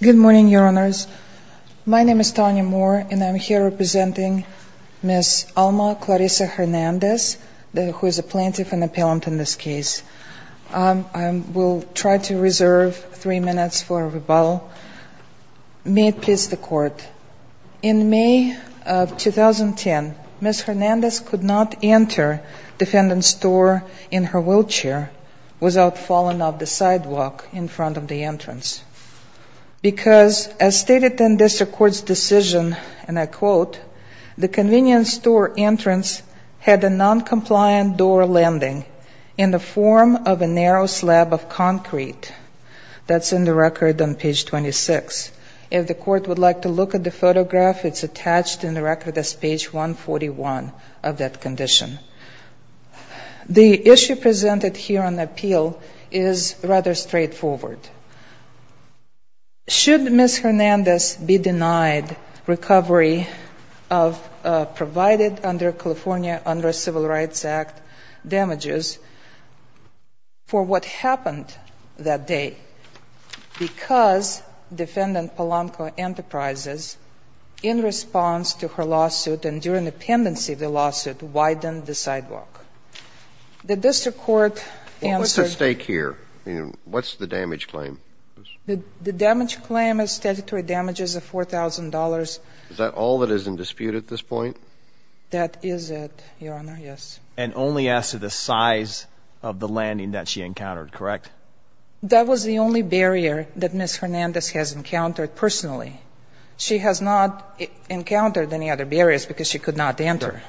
Good morning, Your Honors. My name is Tanya Moore, and I am here representing Ms. Alma Clarissa Hernandez, who is a plaintiff and appellant in this case. I will try to reserve three minutes for rebuttal. May it please the Court, in May of 2010, Ms. Hernandez could not enter Defendant's door in her wheelchair without falling off the sidewalk in front of the entrance. Because, as stated in this Court's decision, and I quote, the convenience door entrance had a noncompliant door landing in the form of a narrow slab of concrete. That's in the record on page 26. If the Court would like to look at the photograph, it's attached in the record as page 141 of that condition. The issue presented here on appeal is rather straightforward. Should Ms. Hernandez be denied recovery of provided under California Under Civil Rights Act damages for what happened that day because Defendant Polanco Enterprises, in response to her lawsuit and during the pendency of the lawsuit, widened the sidewalk? The district court answered What's at stake here? I mean, what's the damage claim? The damage claim is statutory damages of $4,000. Is that all that is in dispute at this point? That is it, Your Honor, yes. And only as to the size of the landing that she encountered, correct? That was the only barrier that Ms. Hernandez has encountered personally. She has not encountered any other barriers because she could not enter. Correct.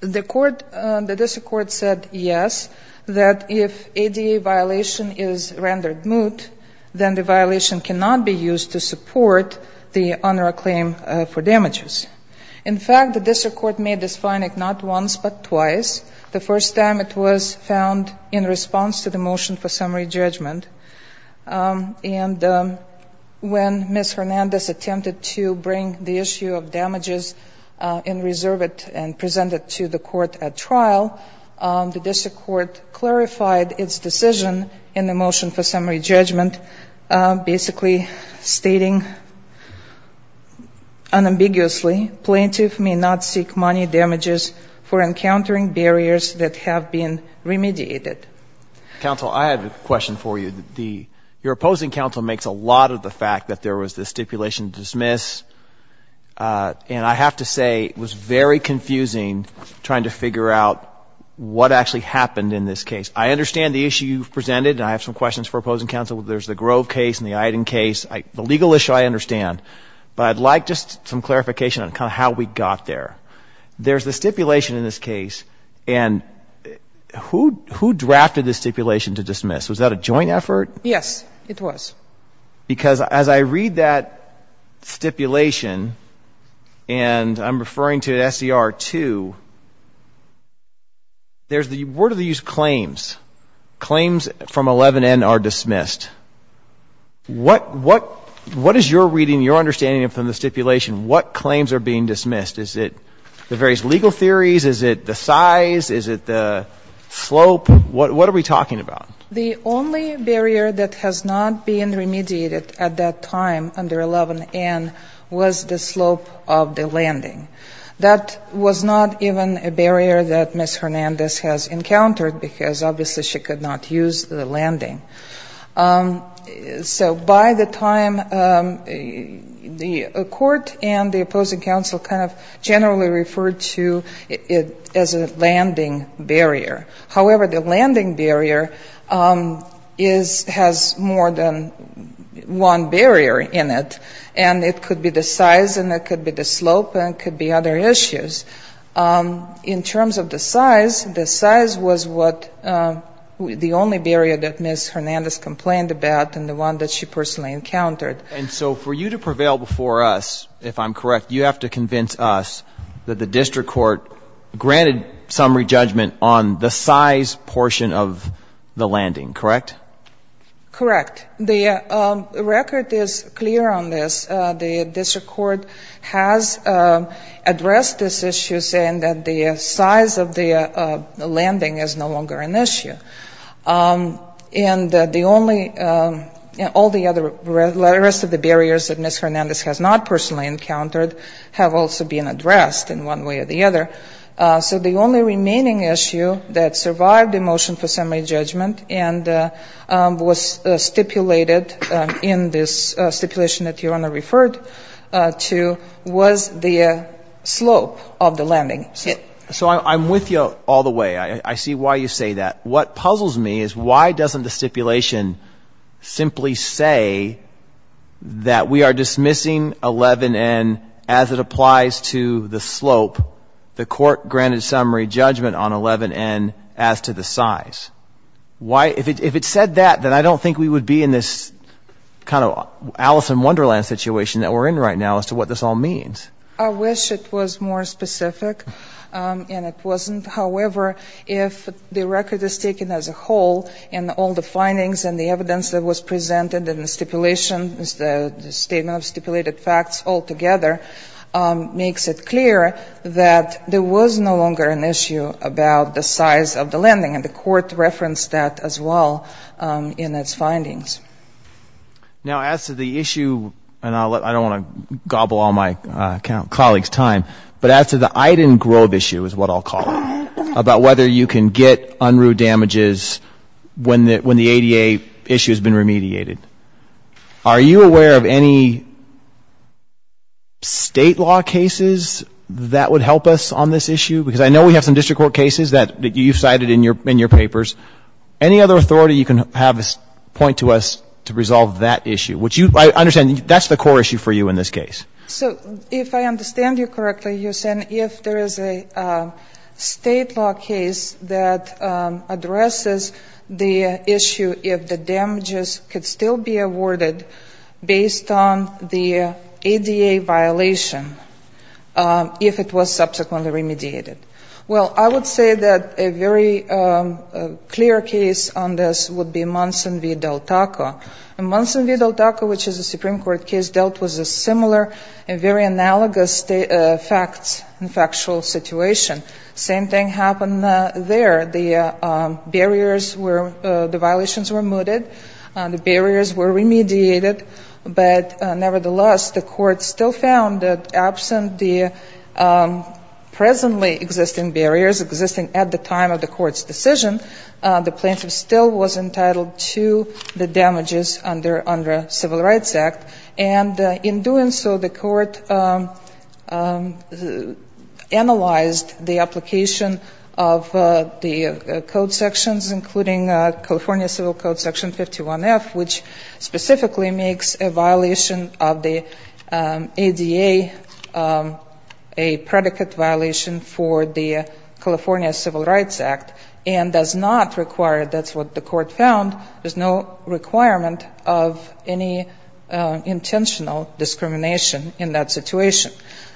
The court, the district court said yes, that if ADA violation is rendered moot, then the violation cannot be used to support the UNRRA claim for damages. In fact, the district court made this finding not once but twice. The first time it was found in response to the motion for summary judgment. And when Ms. Hernandez attempted to bring the issue of damages in reserve and present it to the court at trial, the district court clarified its decision in the motion for summary judgment, basically stating unambiguously, plaintiff may not seek money damages for encountering barriers that have been remediated. Counsel, I have a question for you. Your opposing counsel makes a lot of the fact that there was this stipulation to dismiss. And I have to say, it was very confusing trying to figure out what actually happened in this case. I understand the issue you've presented, and I have some questions for opposing counsel. There's the Grove case and the Iden case. The legal issue I understand. But I'd like just some clarification on how we got there. There's the stipulation in this case, and who drafted the stipulation to dismiss? Was that a joint effort? Yes, it was. Because as I read that stipulation, and I'm referring to SCR2, where do they use claims? Claims from 11N are dismissed. What is your reading, your understanding from the stipulation, what claims are being dismissed? Is it the various legal theories? Is it the size? Is it the slope? What are we talking about? The only barrier that has not been remediated at that time under 11N was the slope of the landing. That was not even a barrier that Ms. Hernandez has encountered because obviously she could not use the landing. So by the time the court and the opposing counsel kind of generally referred to it as a landing barrier. However, the landing barrier has more than one barrier in it, and it could be the size and it could be the slope and it could be other issues. In terms of the size, the size was what the only barrier that Ms. Hernandez complained about and the one that she personally encountered. And so for you to prevail before us, if I'm correct, you have to convince us that the district court granted summary judgment on the size portion of the landing, correct? Correct. The record is clear on this. The district court has addressed this issue saying that the size of the landing is no longer an issue. And the only, all the other, the rest of the barriers that Ms. Hernandez has not personally encountered have also been addressed in one way or the other. So the only remaining issue that survived the motion for summary judgment and was stipulated in this stipulation that Your Honor referred to was the slope of the landing. So I'm with you all the way. I see why you say that. What puzzles me is why doesn't the stipulation simply say that we are dismissing 11N as it applies to the slope, the court granted summary judgment on 11N as to the size? Why, if it said that, then I don't think we would be in this kind of Alice in Wonderland situation that we're in right now as to what this all means. I wish it was more specific and it wasn't. However, if the record is taken as a whole and all the findings and the evidence that was presented in the stipulation, the statement of about the size of the landing. And the court referenced that as well in its findings. Now, as to the issue, and I don't want to gobble all my colleagues' time, but as to the Iden Grove issue is what I'll call it, about whether you can get unruh damages when the ADA issue has been remediated. Are you aware of any State law cases that would help us on this issue? Because I know we have some district court cases that you cited in your papers. Any other authority you can have point to us to resolve that issue? Which you, I understand, that's the core issue for you in this case. So if I understand you correctly, you're saying if there is a State law case that addresses the issue if the damages could still be awarded based on the ADA violation if it was subsequently remediated. Well, I would say that a very clear case on this would be Munson v. Del Taco. In Munson v. Del Taco, which is a Supreme Court case, dealt with a similar and very analogous facts and factual situation. Same thing happened there. The barriers were, the violations were mooted. The barriers were remediated. But presently existing barriers, existing at the time of the court's decision, the plaintiff still was entitled to the damages under Civil Rights Act. And in doing so, the court analyzed the application of the code sections, including California Civil Code Section 51F, which for the California Civil Rights Act and does not require, that's what the court found, there's no requirement of any intentional discrimination in that situation.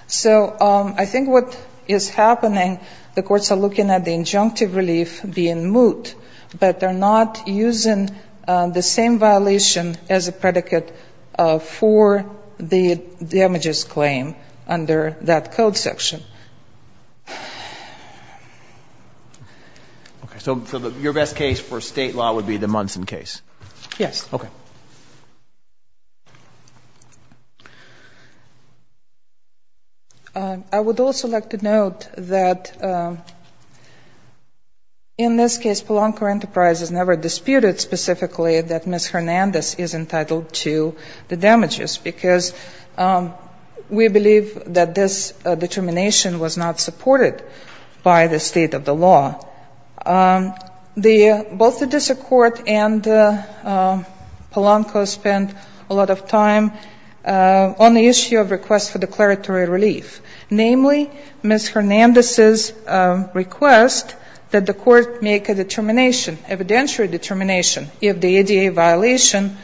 So I think what is happening, the courts are looking at the injunctive relief being moot, but they're not using the same violation as a predicate for the damages claim under that code section. So your best case for state law would be the Munson case? Yes. Okay. I would also like to note that in this case, Polanco Enterprises never disputed specifically that Ms. Hernandez is entitled to the damages, because we believe that this determination was not supported by the state of the law. Both the district court and Polanco spent a lot of time on the issue of request for declaratory relief. Namely, Ms. Hernandez's request that the court make a determination, evidentiary determination, if the ADA violation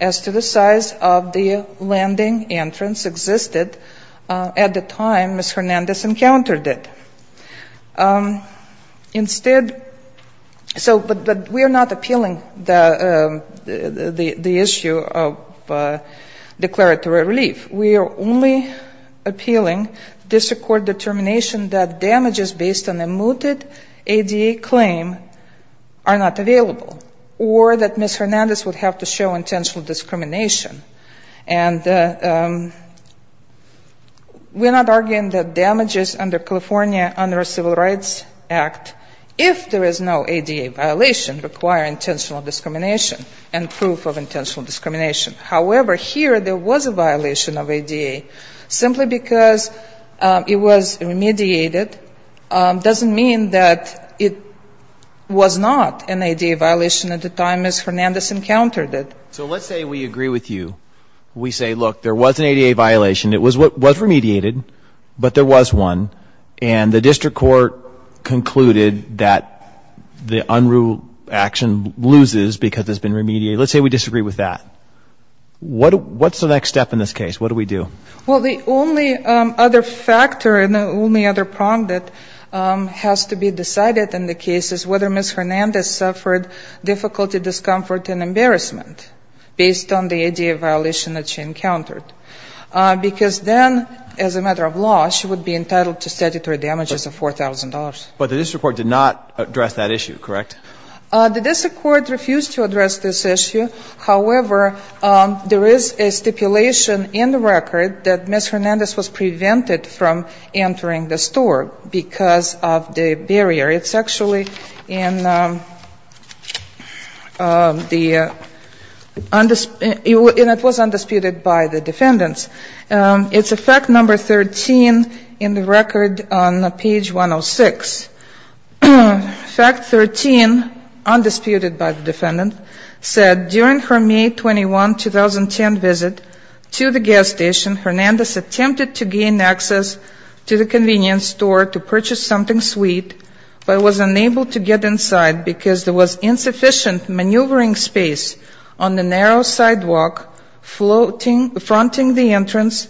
as to the size of the landing entrance existed at the time Ms. Hernandez encountered it. Instead, but we are not appealing the issue of declaratory relief. We are only appealing district court determination that damages based on a mooted ADA claim are not available, or that Ms. Hernandez would have to show intentional discrimination. And we're not arguing that damages under California under a Civil Rights Act, if there is no ADA violation, require intentional discrimination and proof of intentional discrimination. However, here there was a violation of ADA, simply because it was remediated doesn't mean that it was not an ADA violation at the time Ms. Hernandez encountered it. So let's say we agree with you. We say, look, there was an ADA violation. It was remediated, but there was one. And the district court concluded that the unruly action loses because it's been remediated. Let's say we disagree with that. What's the next step in this case? What do we do? Well, the only other factor and the only other prong that has to be decided in the case is whether Ms. Hernandez suffered difficulty, discomfort, and embarrassment based on the ADA violation that she encountered. Because then, as a matter of law, she would be entitled to statutory damages of $4,000. But the district court did not address that issue, correct? The district court refused to address this issue. However, there is a stipulation in the record that Ms. Hernandez was prevented from entering the store because of the barrier. It's actually in the undisputed, and it was undisputed by the defendants. It's a fact number 13 in the record on page 106. Fact 13, undisputed by the defendant, said during her May 21, 2010 visit, two the gas station, Hernandez attempted to gain access to the convenience store to purchase something sweet but was unable to get inside because there was insufficient maneuvering space on the narrow sidewalk fronting the entrance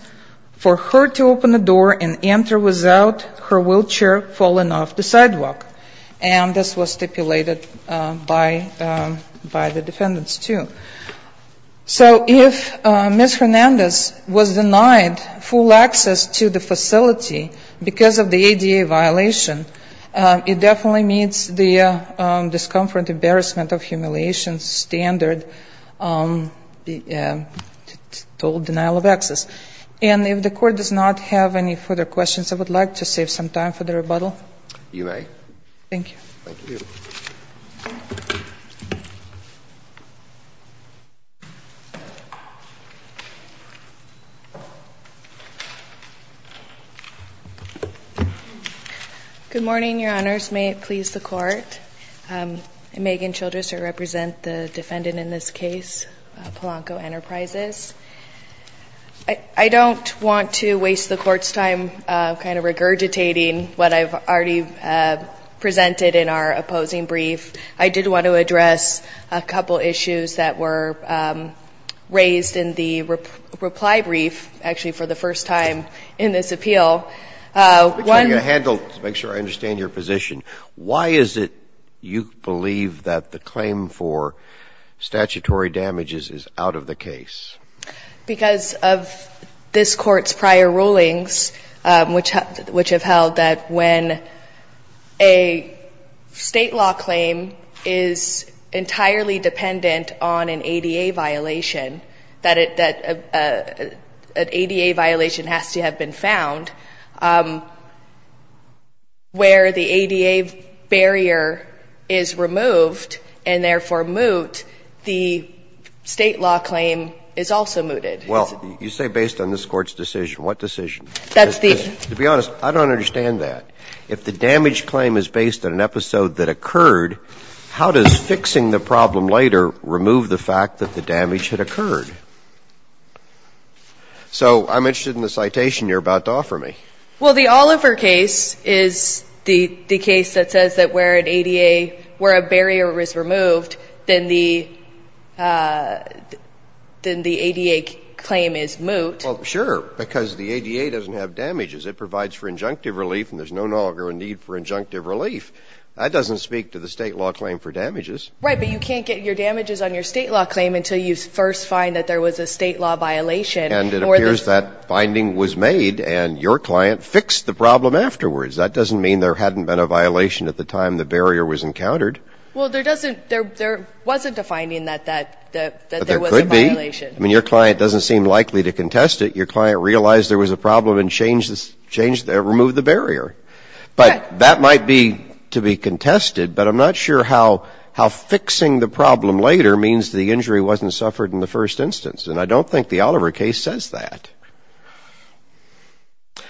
for her to open the door and enter without her wheelchair falling off the sidewalk. And this was stipulated by the defendants, too. So if Ms. Hernandez was denied full access to the facility because of the ADA violation, it definitely meets the discomfort, embarrassment, or humiliation standard, the total denial of access. And if the Court does not have any further questions, I would like to save some time for the rebuttal. You may. Thank you. Thank you. Thank you. Good morning, Your Honors. May it please the Court? I'm Megan Childress. I represent the defendant in this case, Polanco Enterprises. I don't want to waste the Court's time kind of regurgitating what I've already presented in our opposing brief. I did want to address a couple issues that were raised in the reply brief, actually for the first time in this appeal. Make sure I understand your position. Why is it you believe that the claim for statutory damages is out of the case? Because of this Court's prior rulings, which have held that when a state law claim is entirely dependent on an ADA violation, that an ADA violation has to have been found, where the ADA barrier is removed, then the ADA barrier is also mooted. Well, you say based on this Court's decision. What decision? That's the... To be honest, I don't understand that. If the damage claim is based on an episode that occurred, how does fixing the problem later remove the fact that the damage had occurred? So I'm interested in the citation you're about to offer me. Well, the Oliver case is the case that says that where an ADA, where a barrier is removed, then the ADA claim is moot. Well, sure, because the ADA doesn't have damages. It provides for injunctive relief, and there's no longer a need for injunctive relief. That doesn't speak to the state law claim for damages. Right, but you can't get your damages on your state law claim until you first find that there was a state law violation. And it appears that finding was made, and your client fixed the problem afterwards. That doesn't mean there hadn't been a violation at the time the barrier was encountered. Well, there wasn't a finding that there was a violation. But there could be. I mean, your client doesn't seem likely to contest it. Your client realized there was a problem and removed the barrier. But that might be to be contested, but I'm not sure how fixing the problem later means the injury wasn't suffered in the first instance. And I don't think the Oliver case says that.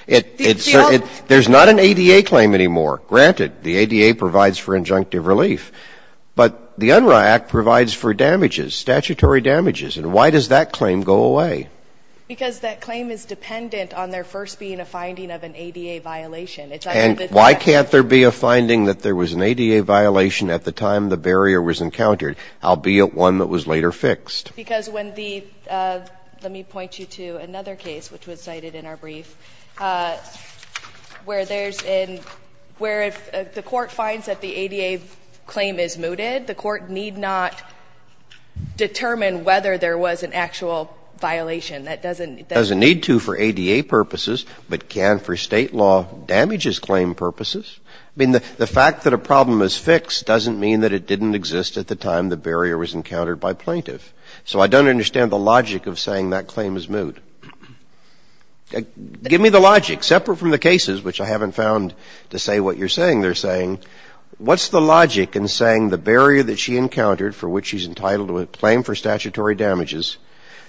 It's not an ADA claim anymore. Granted, the ADA provides for injunctive relief, but the Unruh Act provides for damages, statutory damages. And why does that claim go away? Because that claim is dependent on there first being a finding of an ADA violation. And why can't there be a finding that there was an ADA violation at the time the barrier was encountered? Because when the — let me point you to another case, which was cited in our brief, where there's a — where if the court finds that the ADA claim is mooted, the court need not determine whether there was an actual violation. That doesn't — It doesn't need to for ADA purposes, but can for State law damages claim purposes. I mean, the fact that a problem is fixed doesn't mean that it didn't exist at the time the barrier was encountered by plaintiff. So I don't understand the logic of saying that claim is moot. Give me the logic, separate from the cases, which I haven't found to say what you're saying they're saying. What's the logic in saying the barrier that she encountered, for which she's entitled to a claim for statutory damages,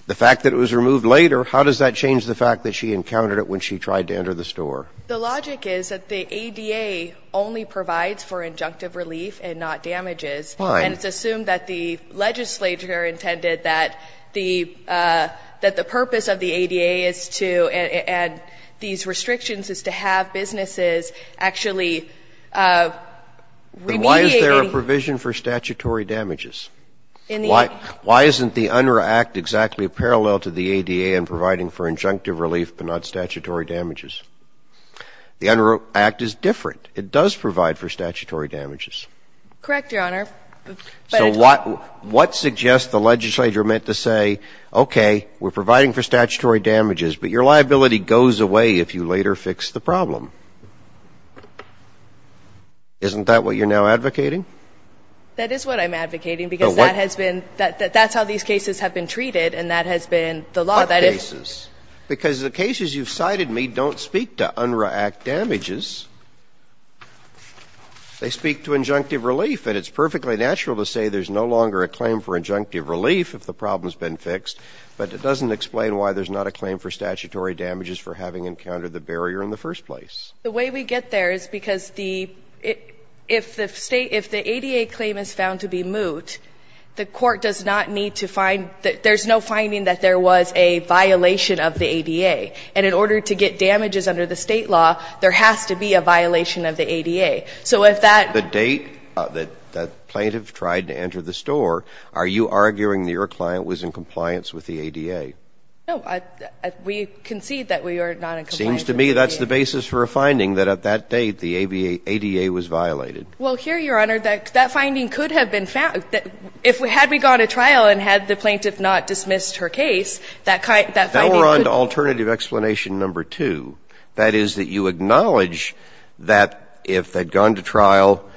the fact that it was removed later, how does that change the fact that she encountered it when she tried to enter the store? The logic is that the ADA only provides for injunctive relief and not damages. Fine. And it's assumed that the legislature intended that the — that the purpose of the ADA is to — and these restrictions is to have businesses actually remediating — Then why is there a provision for statutory damages? In the — Why isn't the UNRRA Act exactly parallel to the ADA in providing for injunctive relief? The UNRRA Act is different. It does provide for statutory damages. Correct, Your Honor. So what — what suggests the legislature meant to say, okay, we're providing for statutory damages, but your liability goes away if you later fix the problem? Isn't that what you're now advocating? That is what I'm advocating, because that has been — that's how these cases have been treated, and that has been the law that if — Well, that's not the case. Because the cases you've cited me don't speak to UNRRA Act damages. They speak to injunctive relief, and it's perfectly natural to say there's no longer a claim for injunctive relief if the problem's been fixed, but it doesn't explain why there's not a claim for statutory damages for having encountered the barrier in the first place. The way we get there is because the — if the state — if the ADA claim is found to be moot, the Court does not need to find — there's no finding that there was a violation of the ADA. And in order to get damages under the State law, there has to be a violation of the ADA. So if that — The date that the plaintiff tried to enter the store, are you arguing that your client was in compliance with the ADA? No. We concede that we are not in compliance with the ADA. It seems to me that's the basis for a finding that at that date the ADA was violated. Well, here, Your Honor, that finding could have been found — if we — had we gone to trial and had the plaintiff not dismissed her case, that finding could — Now we're on to alternative explanation number two. That is that you acknowledge that if they'd gone to trial,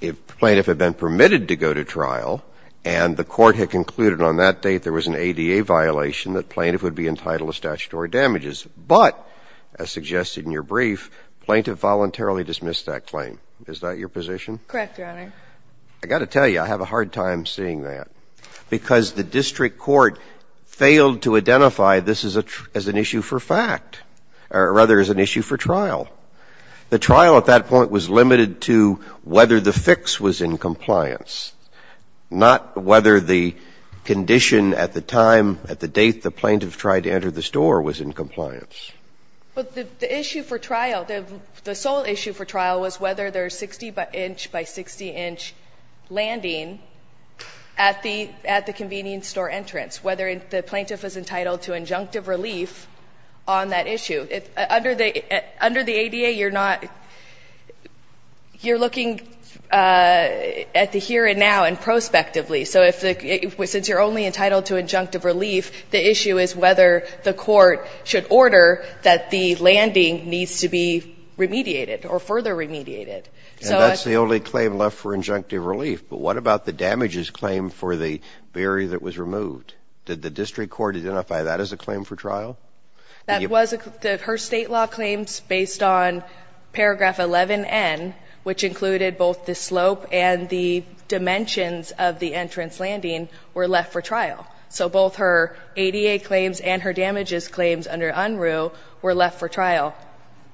if the plaintiff had been permitted to go to trial, and the Court had concluded on that date there was an ADA violation, that plaintiff would be entitled to statutory damages. But, as suggested in your brief, plaintiff voluntarily dismissed that claim. Is that your position? Correct, Your Honor. I've got to tell you, I have a hard time seeing that. Because the district court failed to identify this as an issue for fact, or rather as an issue for trial. The trial at that point was limited to whether the fix was in compliance, not whether the condition at the time, at the date the plaintiff tried to enter the store, was in compliance. But the issue for trial, the sole issue for trial was whether there's 60-inch by 60-inch landing at the convenience store entrance, whether the plaintiff was entitled to injunctive relief on that issue. Under the ADA, you're not — you're looking at the here and now and prospectively. So if the — since you're only entitled to injunctive relief, the issue is whether the court should order that the landing needs to be remediated or further remediated. And that's the only claim left for injunctive relief. But what about the damages claim for the barrier that was removed? Did the district court identify that as a claim for trial? That was a — her State law claims, based on paragraph 11N, which included both the slope and the dimensions of the entrance landing, were left for trial. So both her ADA claims and her damages claims under UNRU were left for trial.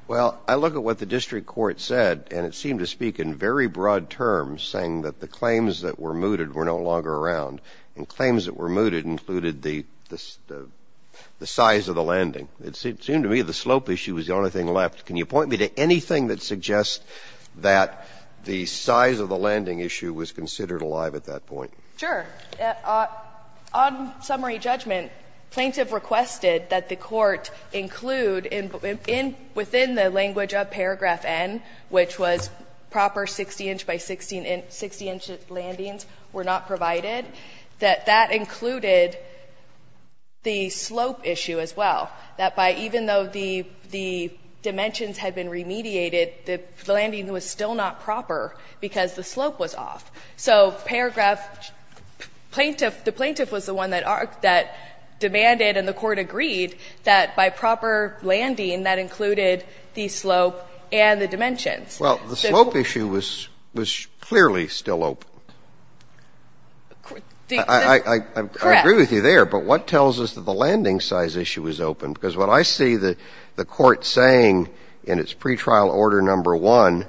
Well, I look at what the district court said, and it seemed to speak in very broad terms, saying that the claims that were mooted were no longer around. And claims that were mooted included the size of the landing. It seemed to me the slope issue was the only thing left. Can you point me to anything that suggests that the size of the landing issue was considered alive at that point? Sure. On summary judgment, plaintiff requested that the court include within the language of paragraph N, which was proper 60-inch by 60-inch landings were not provided, that that included the slope issue as well, that by — even though the dimensions had been remediated, the landing was still not proper because the slope was off. So paragraph — plaintiff — the plaintiff was the one that demanded and the court agreed that by proper landing, that included the slope and the dimensions. Well, the slope issue was clearly still open. I agree with you there. Correct. But what tells us that the landing size issue is open? Because what I see the Court saying in its pretrial order number 1,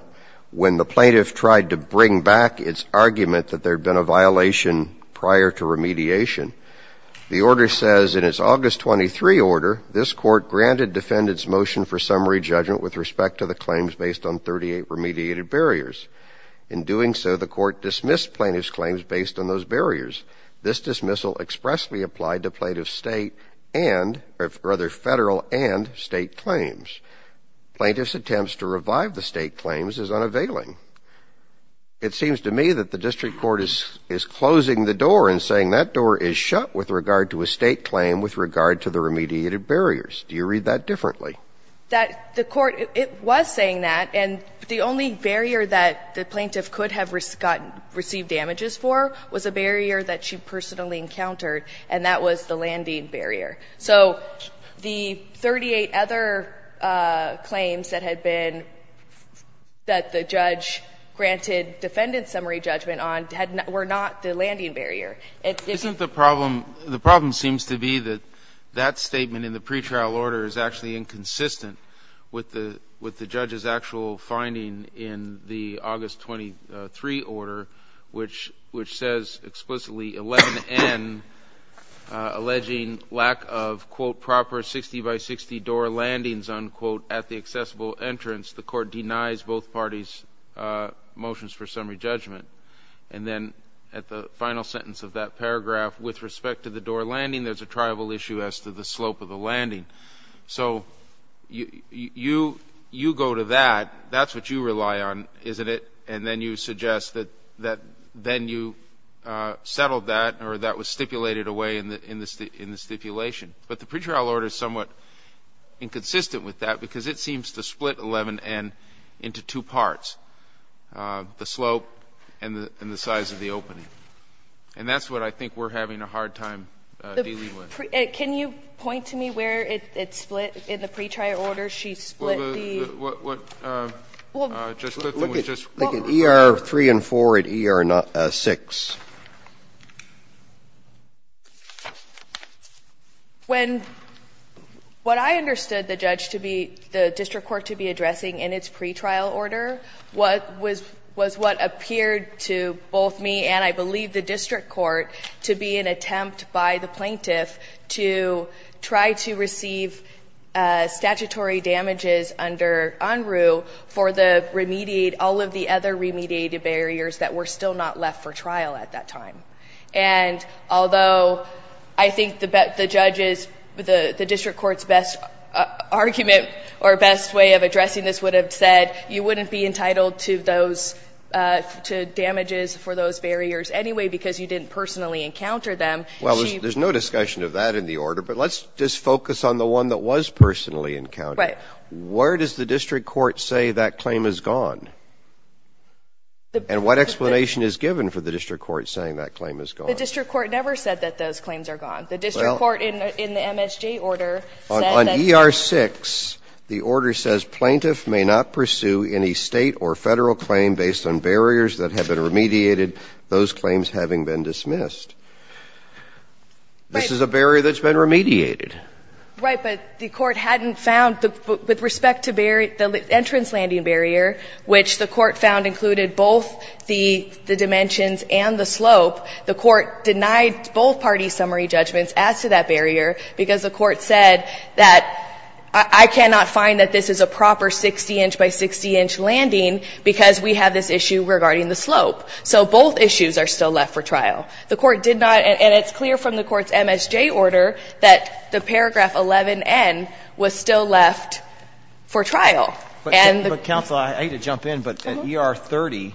when the plaintiff tried to bring back its argument that there had been a violation prior to remediation, the order says in its August 23 order, this court granted defendants motion for summary judgment with respect to the claims based on 38 remediated barriers. In doing so, the court dismissed plaintiff's claims based on those barriers. This dismissal expressly applied to plaintiff's state and — rather, federal and state claims. Plaintiff's attempts to revive the state claims is unavailing. It seems to me that the district court is closing the door and saying that door is shut with regard to a state claim with regard to the remediated barriers. Do you read that differently? That the court — it was saying that, and the only barrier that the plaintiff could have gotten — received damages for was a barrier that she personally encountered, and that was the landing barrier. So the 38 other claims that had been — that the judge granted defendant summary judgment on were not the landing barrier. Isn't the problem — the problem seems to be that that statement in the pretrial order is actually inconsistent with the — with the judge's actual finding in the August 23 order, which — which says explicitly 11N, alleging lack of, quote, proper 60-by-60 door landings, unquote, at the accessible entrance. The court denies both parties' motions for summary judgment. And then at the final sentence of that paragraph, with respect to the door landing, there's a tribal issue as to the slope of the landing. So you — you go to that. That's what you rely on, isn't it? And then you suggest that — that then you settled that or that was stipulated away in the — in the stipulation. But the pretrial order is somewhat inconsistent with that because it seems to split 11N into two parts, the slope and the — and the size of the opening. And that's what I think we're having a hard time dealing with. Can you point to me where it split in the pretrial order? Where she split the — Well, the — what — what — just the thing was just — Look at — look at ER-3 and 4 at ER-6. When — what I understood the judge to be — the district court to be addressing in its pretrial order, what was — was what appeared to both me and, I believe, the district court to be an attempt by the plaintiff to try to receive statutory damages under UNRU for the remediate — all of the other remediated barriers that were still not left for trial at that time. And although I think the judges — the district court's best argument or best way of addressing this would have said, you wouldn't be entitled to those — encounter them, and she — Well, there's no discussion of that in the order. But let's just focus on the one that was personally encountered. Right. Where does the district court say that claim is gone? The — And what explanation is given for the district court saying that claim is gone? The district court never said that those claims are gone. The district court in the MSJ order said that — Well, on ER-6, the order says, Plaintiff may not pursue any state or federal claim based on barriers that have been dismissed. Right. This is a barrier that's been remediated. Right. But the court hadn't found — with respect to the entrance landing barrier, which the court found included both the dimensions and the slope, the court denied both parties' summary judgments as to that barrier, because the court said that, I cannot find that this is a proper 60-inch by 60-inch landing because we have this issue regarding the slope. So both issues are still left for trial. The court did not — and it's clear from the court's MSJ order that the paragraph 11N was still left for trial. And the — But, counsel, I hate to jump in, but at ER-30,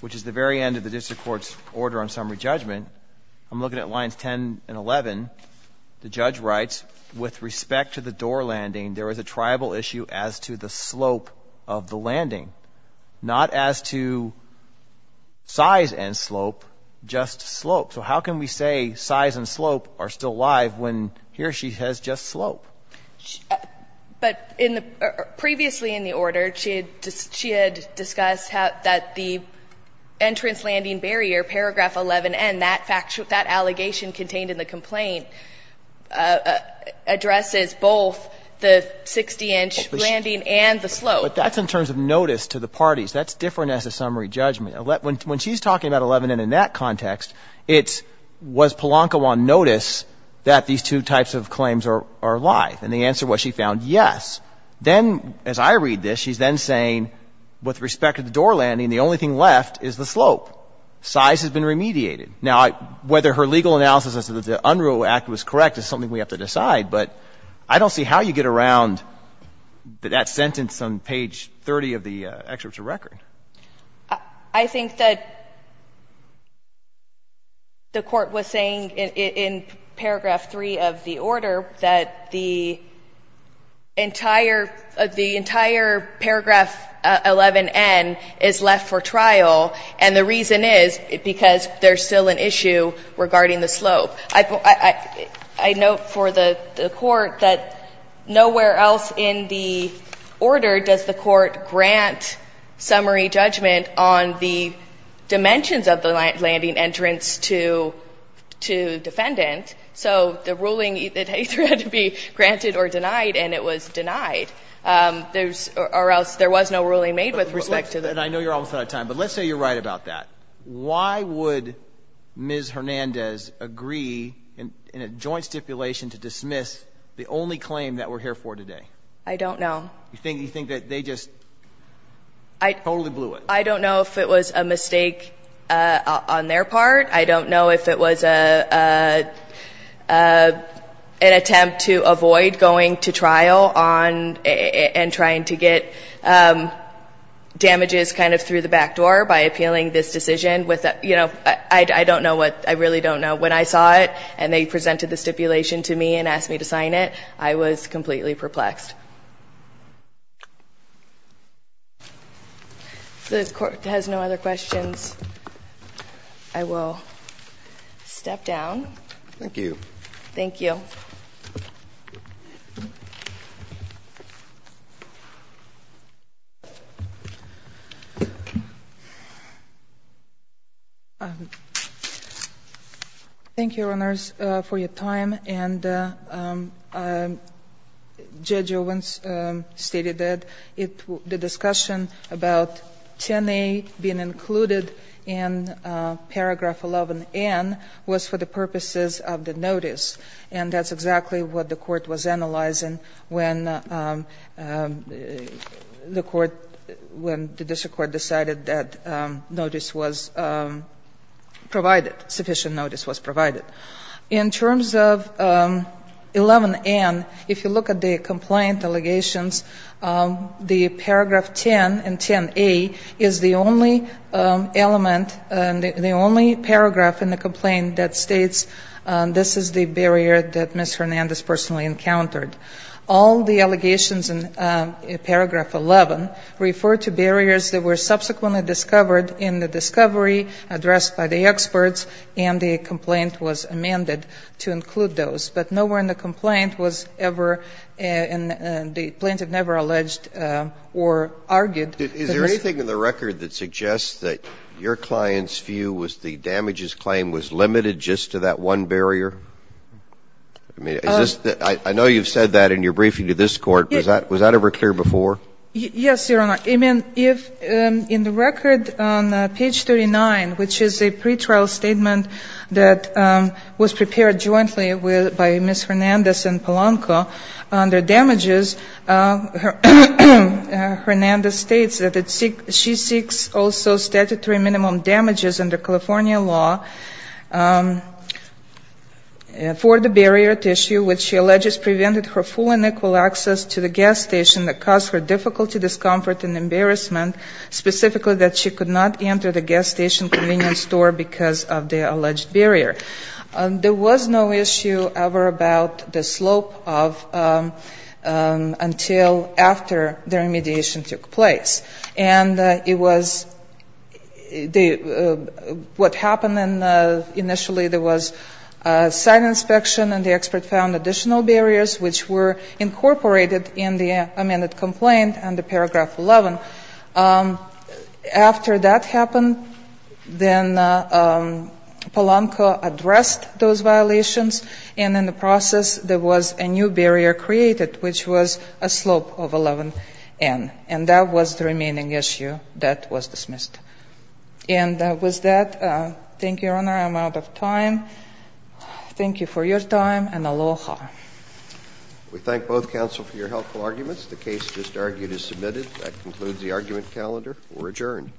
which is the very end of the district court's order on summary judgment, I'm looking at lines 10 and 11. The judge writes, With respect to the door landing, there is a tribal issue as to the slope of the landing. Not as to size and slope, just slope. So how can we say size and slope are still alive when here she says just slope? But in the — previously in the order, she had discussed that the entrance landing barrier, paragraph 11N, that allegation contained in the complaint, addresses both the 60-inch landing and the slope. Well, but that's in terms of notice to the parties. That's different as a summary judgment. When she's talking about 11N in that context, it's was Palonkawan notice that these two types of claims are alive? And the answer was she found yes. Then, as I read this, she's then saying, With respect to the door landing, the only thing left is the slope. Size has been remediated. Now, whether her legal analysis of the Unruh Act was correct is something we have to decide, but I don't see how you get around that sentence on page 30 of the excerpt to record. I think that the Court was saying in paragraph 3 of the order that the entire — the entire paragraph 11N is left for trial, and the reason is because there's still an issue regarding the slope. So I note for the Court that nowhere else in the order does the Court grant summary judgment on the dimensions of the landing entrance to defendant. So the ruling either had to be granted or denied, and it was denied. There's — or else there was no ruling made with respect to the — And I know you're almost out of time, but let's say you're right about that. Why would Ms. Hernandez agree in a joint stipulation to dismiss the only claim that we're here for today? I don't know. You think that they just totally blew it? I don't know if it was a mistake on their part. I don't know if it was an attempt to avoid going to trial and trying to get damages kind of through the back door by appealing this decision with a — you know, I don't know what — I really don't know. When I saw it and they presented the stipulation to me and asked me to sign it, I was completely perplexed. If the Court has no other questions, I will step down. Thank you. Thank you. Thank you. Thank you, Your Honors, for your time. And Judge Owens stated that the discussion about 10A being included in paragraph 11N was for the purposes of the notice, and that's exactly what the Court was analyzing when the court — when the district court decided that notice was provided, sufficient notice was provided. In terms of 11N, if you look at the complaint allegations, the paragraph 10 in 10A is the only element — the only paragraph in the complaint that states, this is the barrier that Ms. Hernandez personally encountered. All the allegations in paragraph 11 refer to barriers that were subsequently discovered in the discovery addressed by the experts, and the complaint was amended to include those. But nowhere in the complaint was ever — the plaintiff never alleged or argued that this — Is there anything in the record that suggests that your client's view was the damages claim was limited just to that one barrier? I mean, is this — I know you've said that in your briefing to this Court. Was that ever clear before? Yes, Your Honor. I mean, if — in the record on page 39, which is a pretrial statement that was prepared jointly by Ms. Hernandez and Polanco under damages, Hernandez states that she seeks also statutory minimum damages under California law for the barrier tissue, which she alleges prevented her full and equal access to the gas station that caused her difficulty, discomfort, and embarrassment, specifically that she could not enter the gas station convenience store because of the alleged barrier. There was no issue ever about the slope of — until after the remediation took place. And it was — what happened initially, there was a site inspection, and the expert found additional barriers, which were incorporated in the amended complaint under paragraph 11. After that happened, then Polanco addressed those violations, and in the process, there was a new barrier created, which was a slope of 11n. And that was the remaining issue that was dismissed. And with that, thank you, Your Honor. I'm out of time. Thank you for your time, and aloha. We thank both counsel for your helpful arguments. The case just argued is submitted. That concludes the argument calendar. We're adjourned.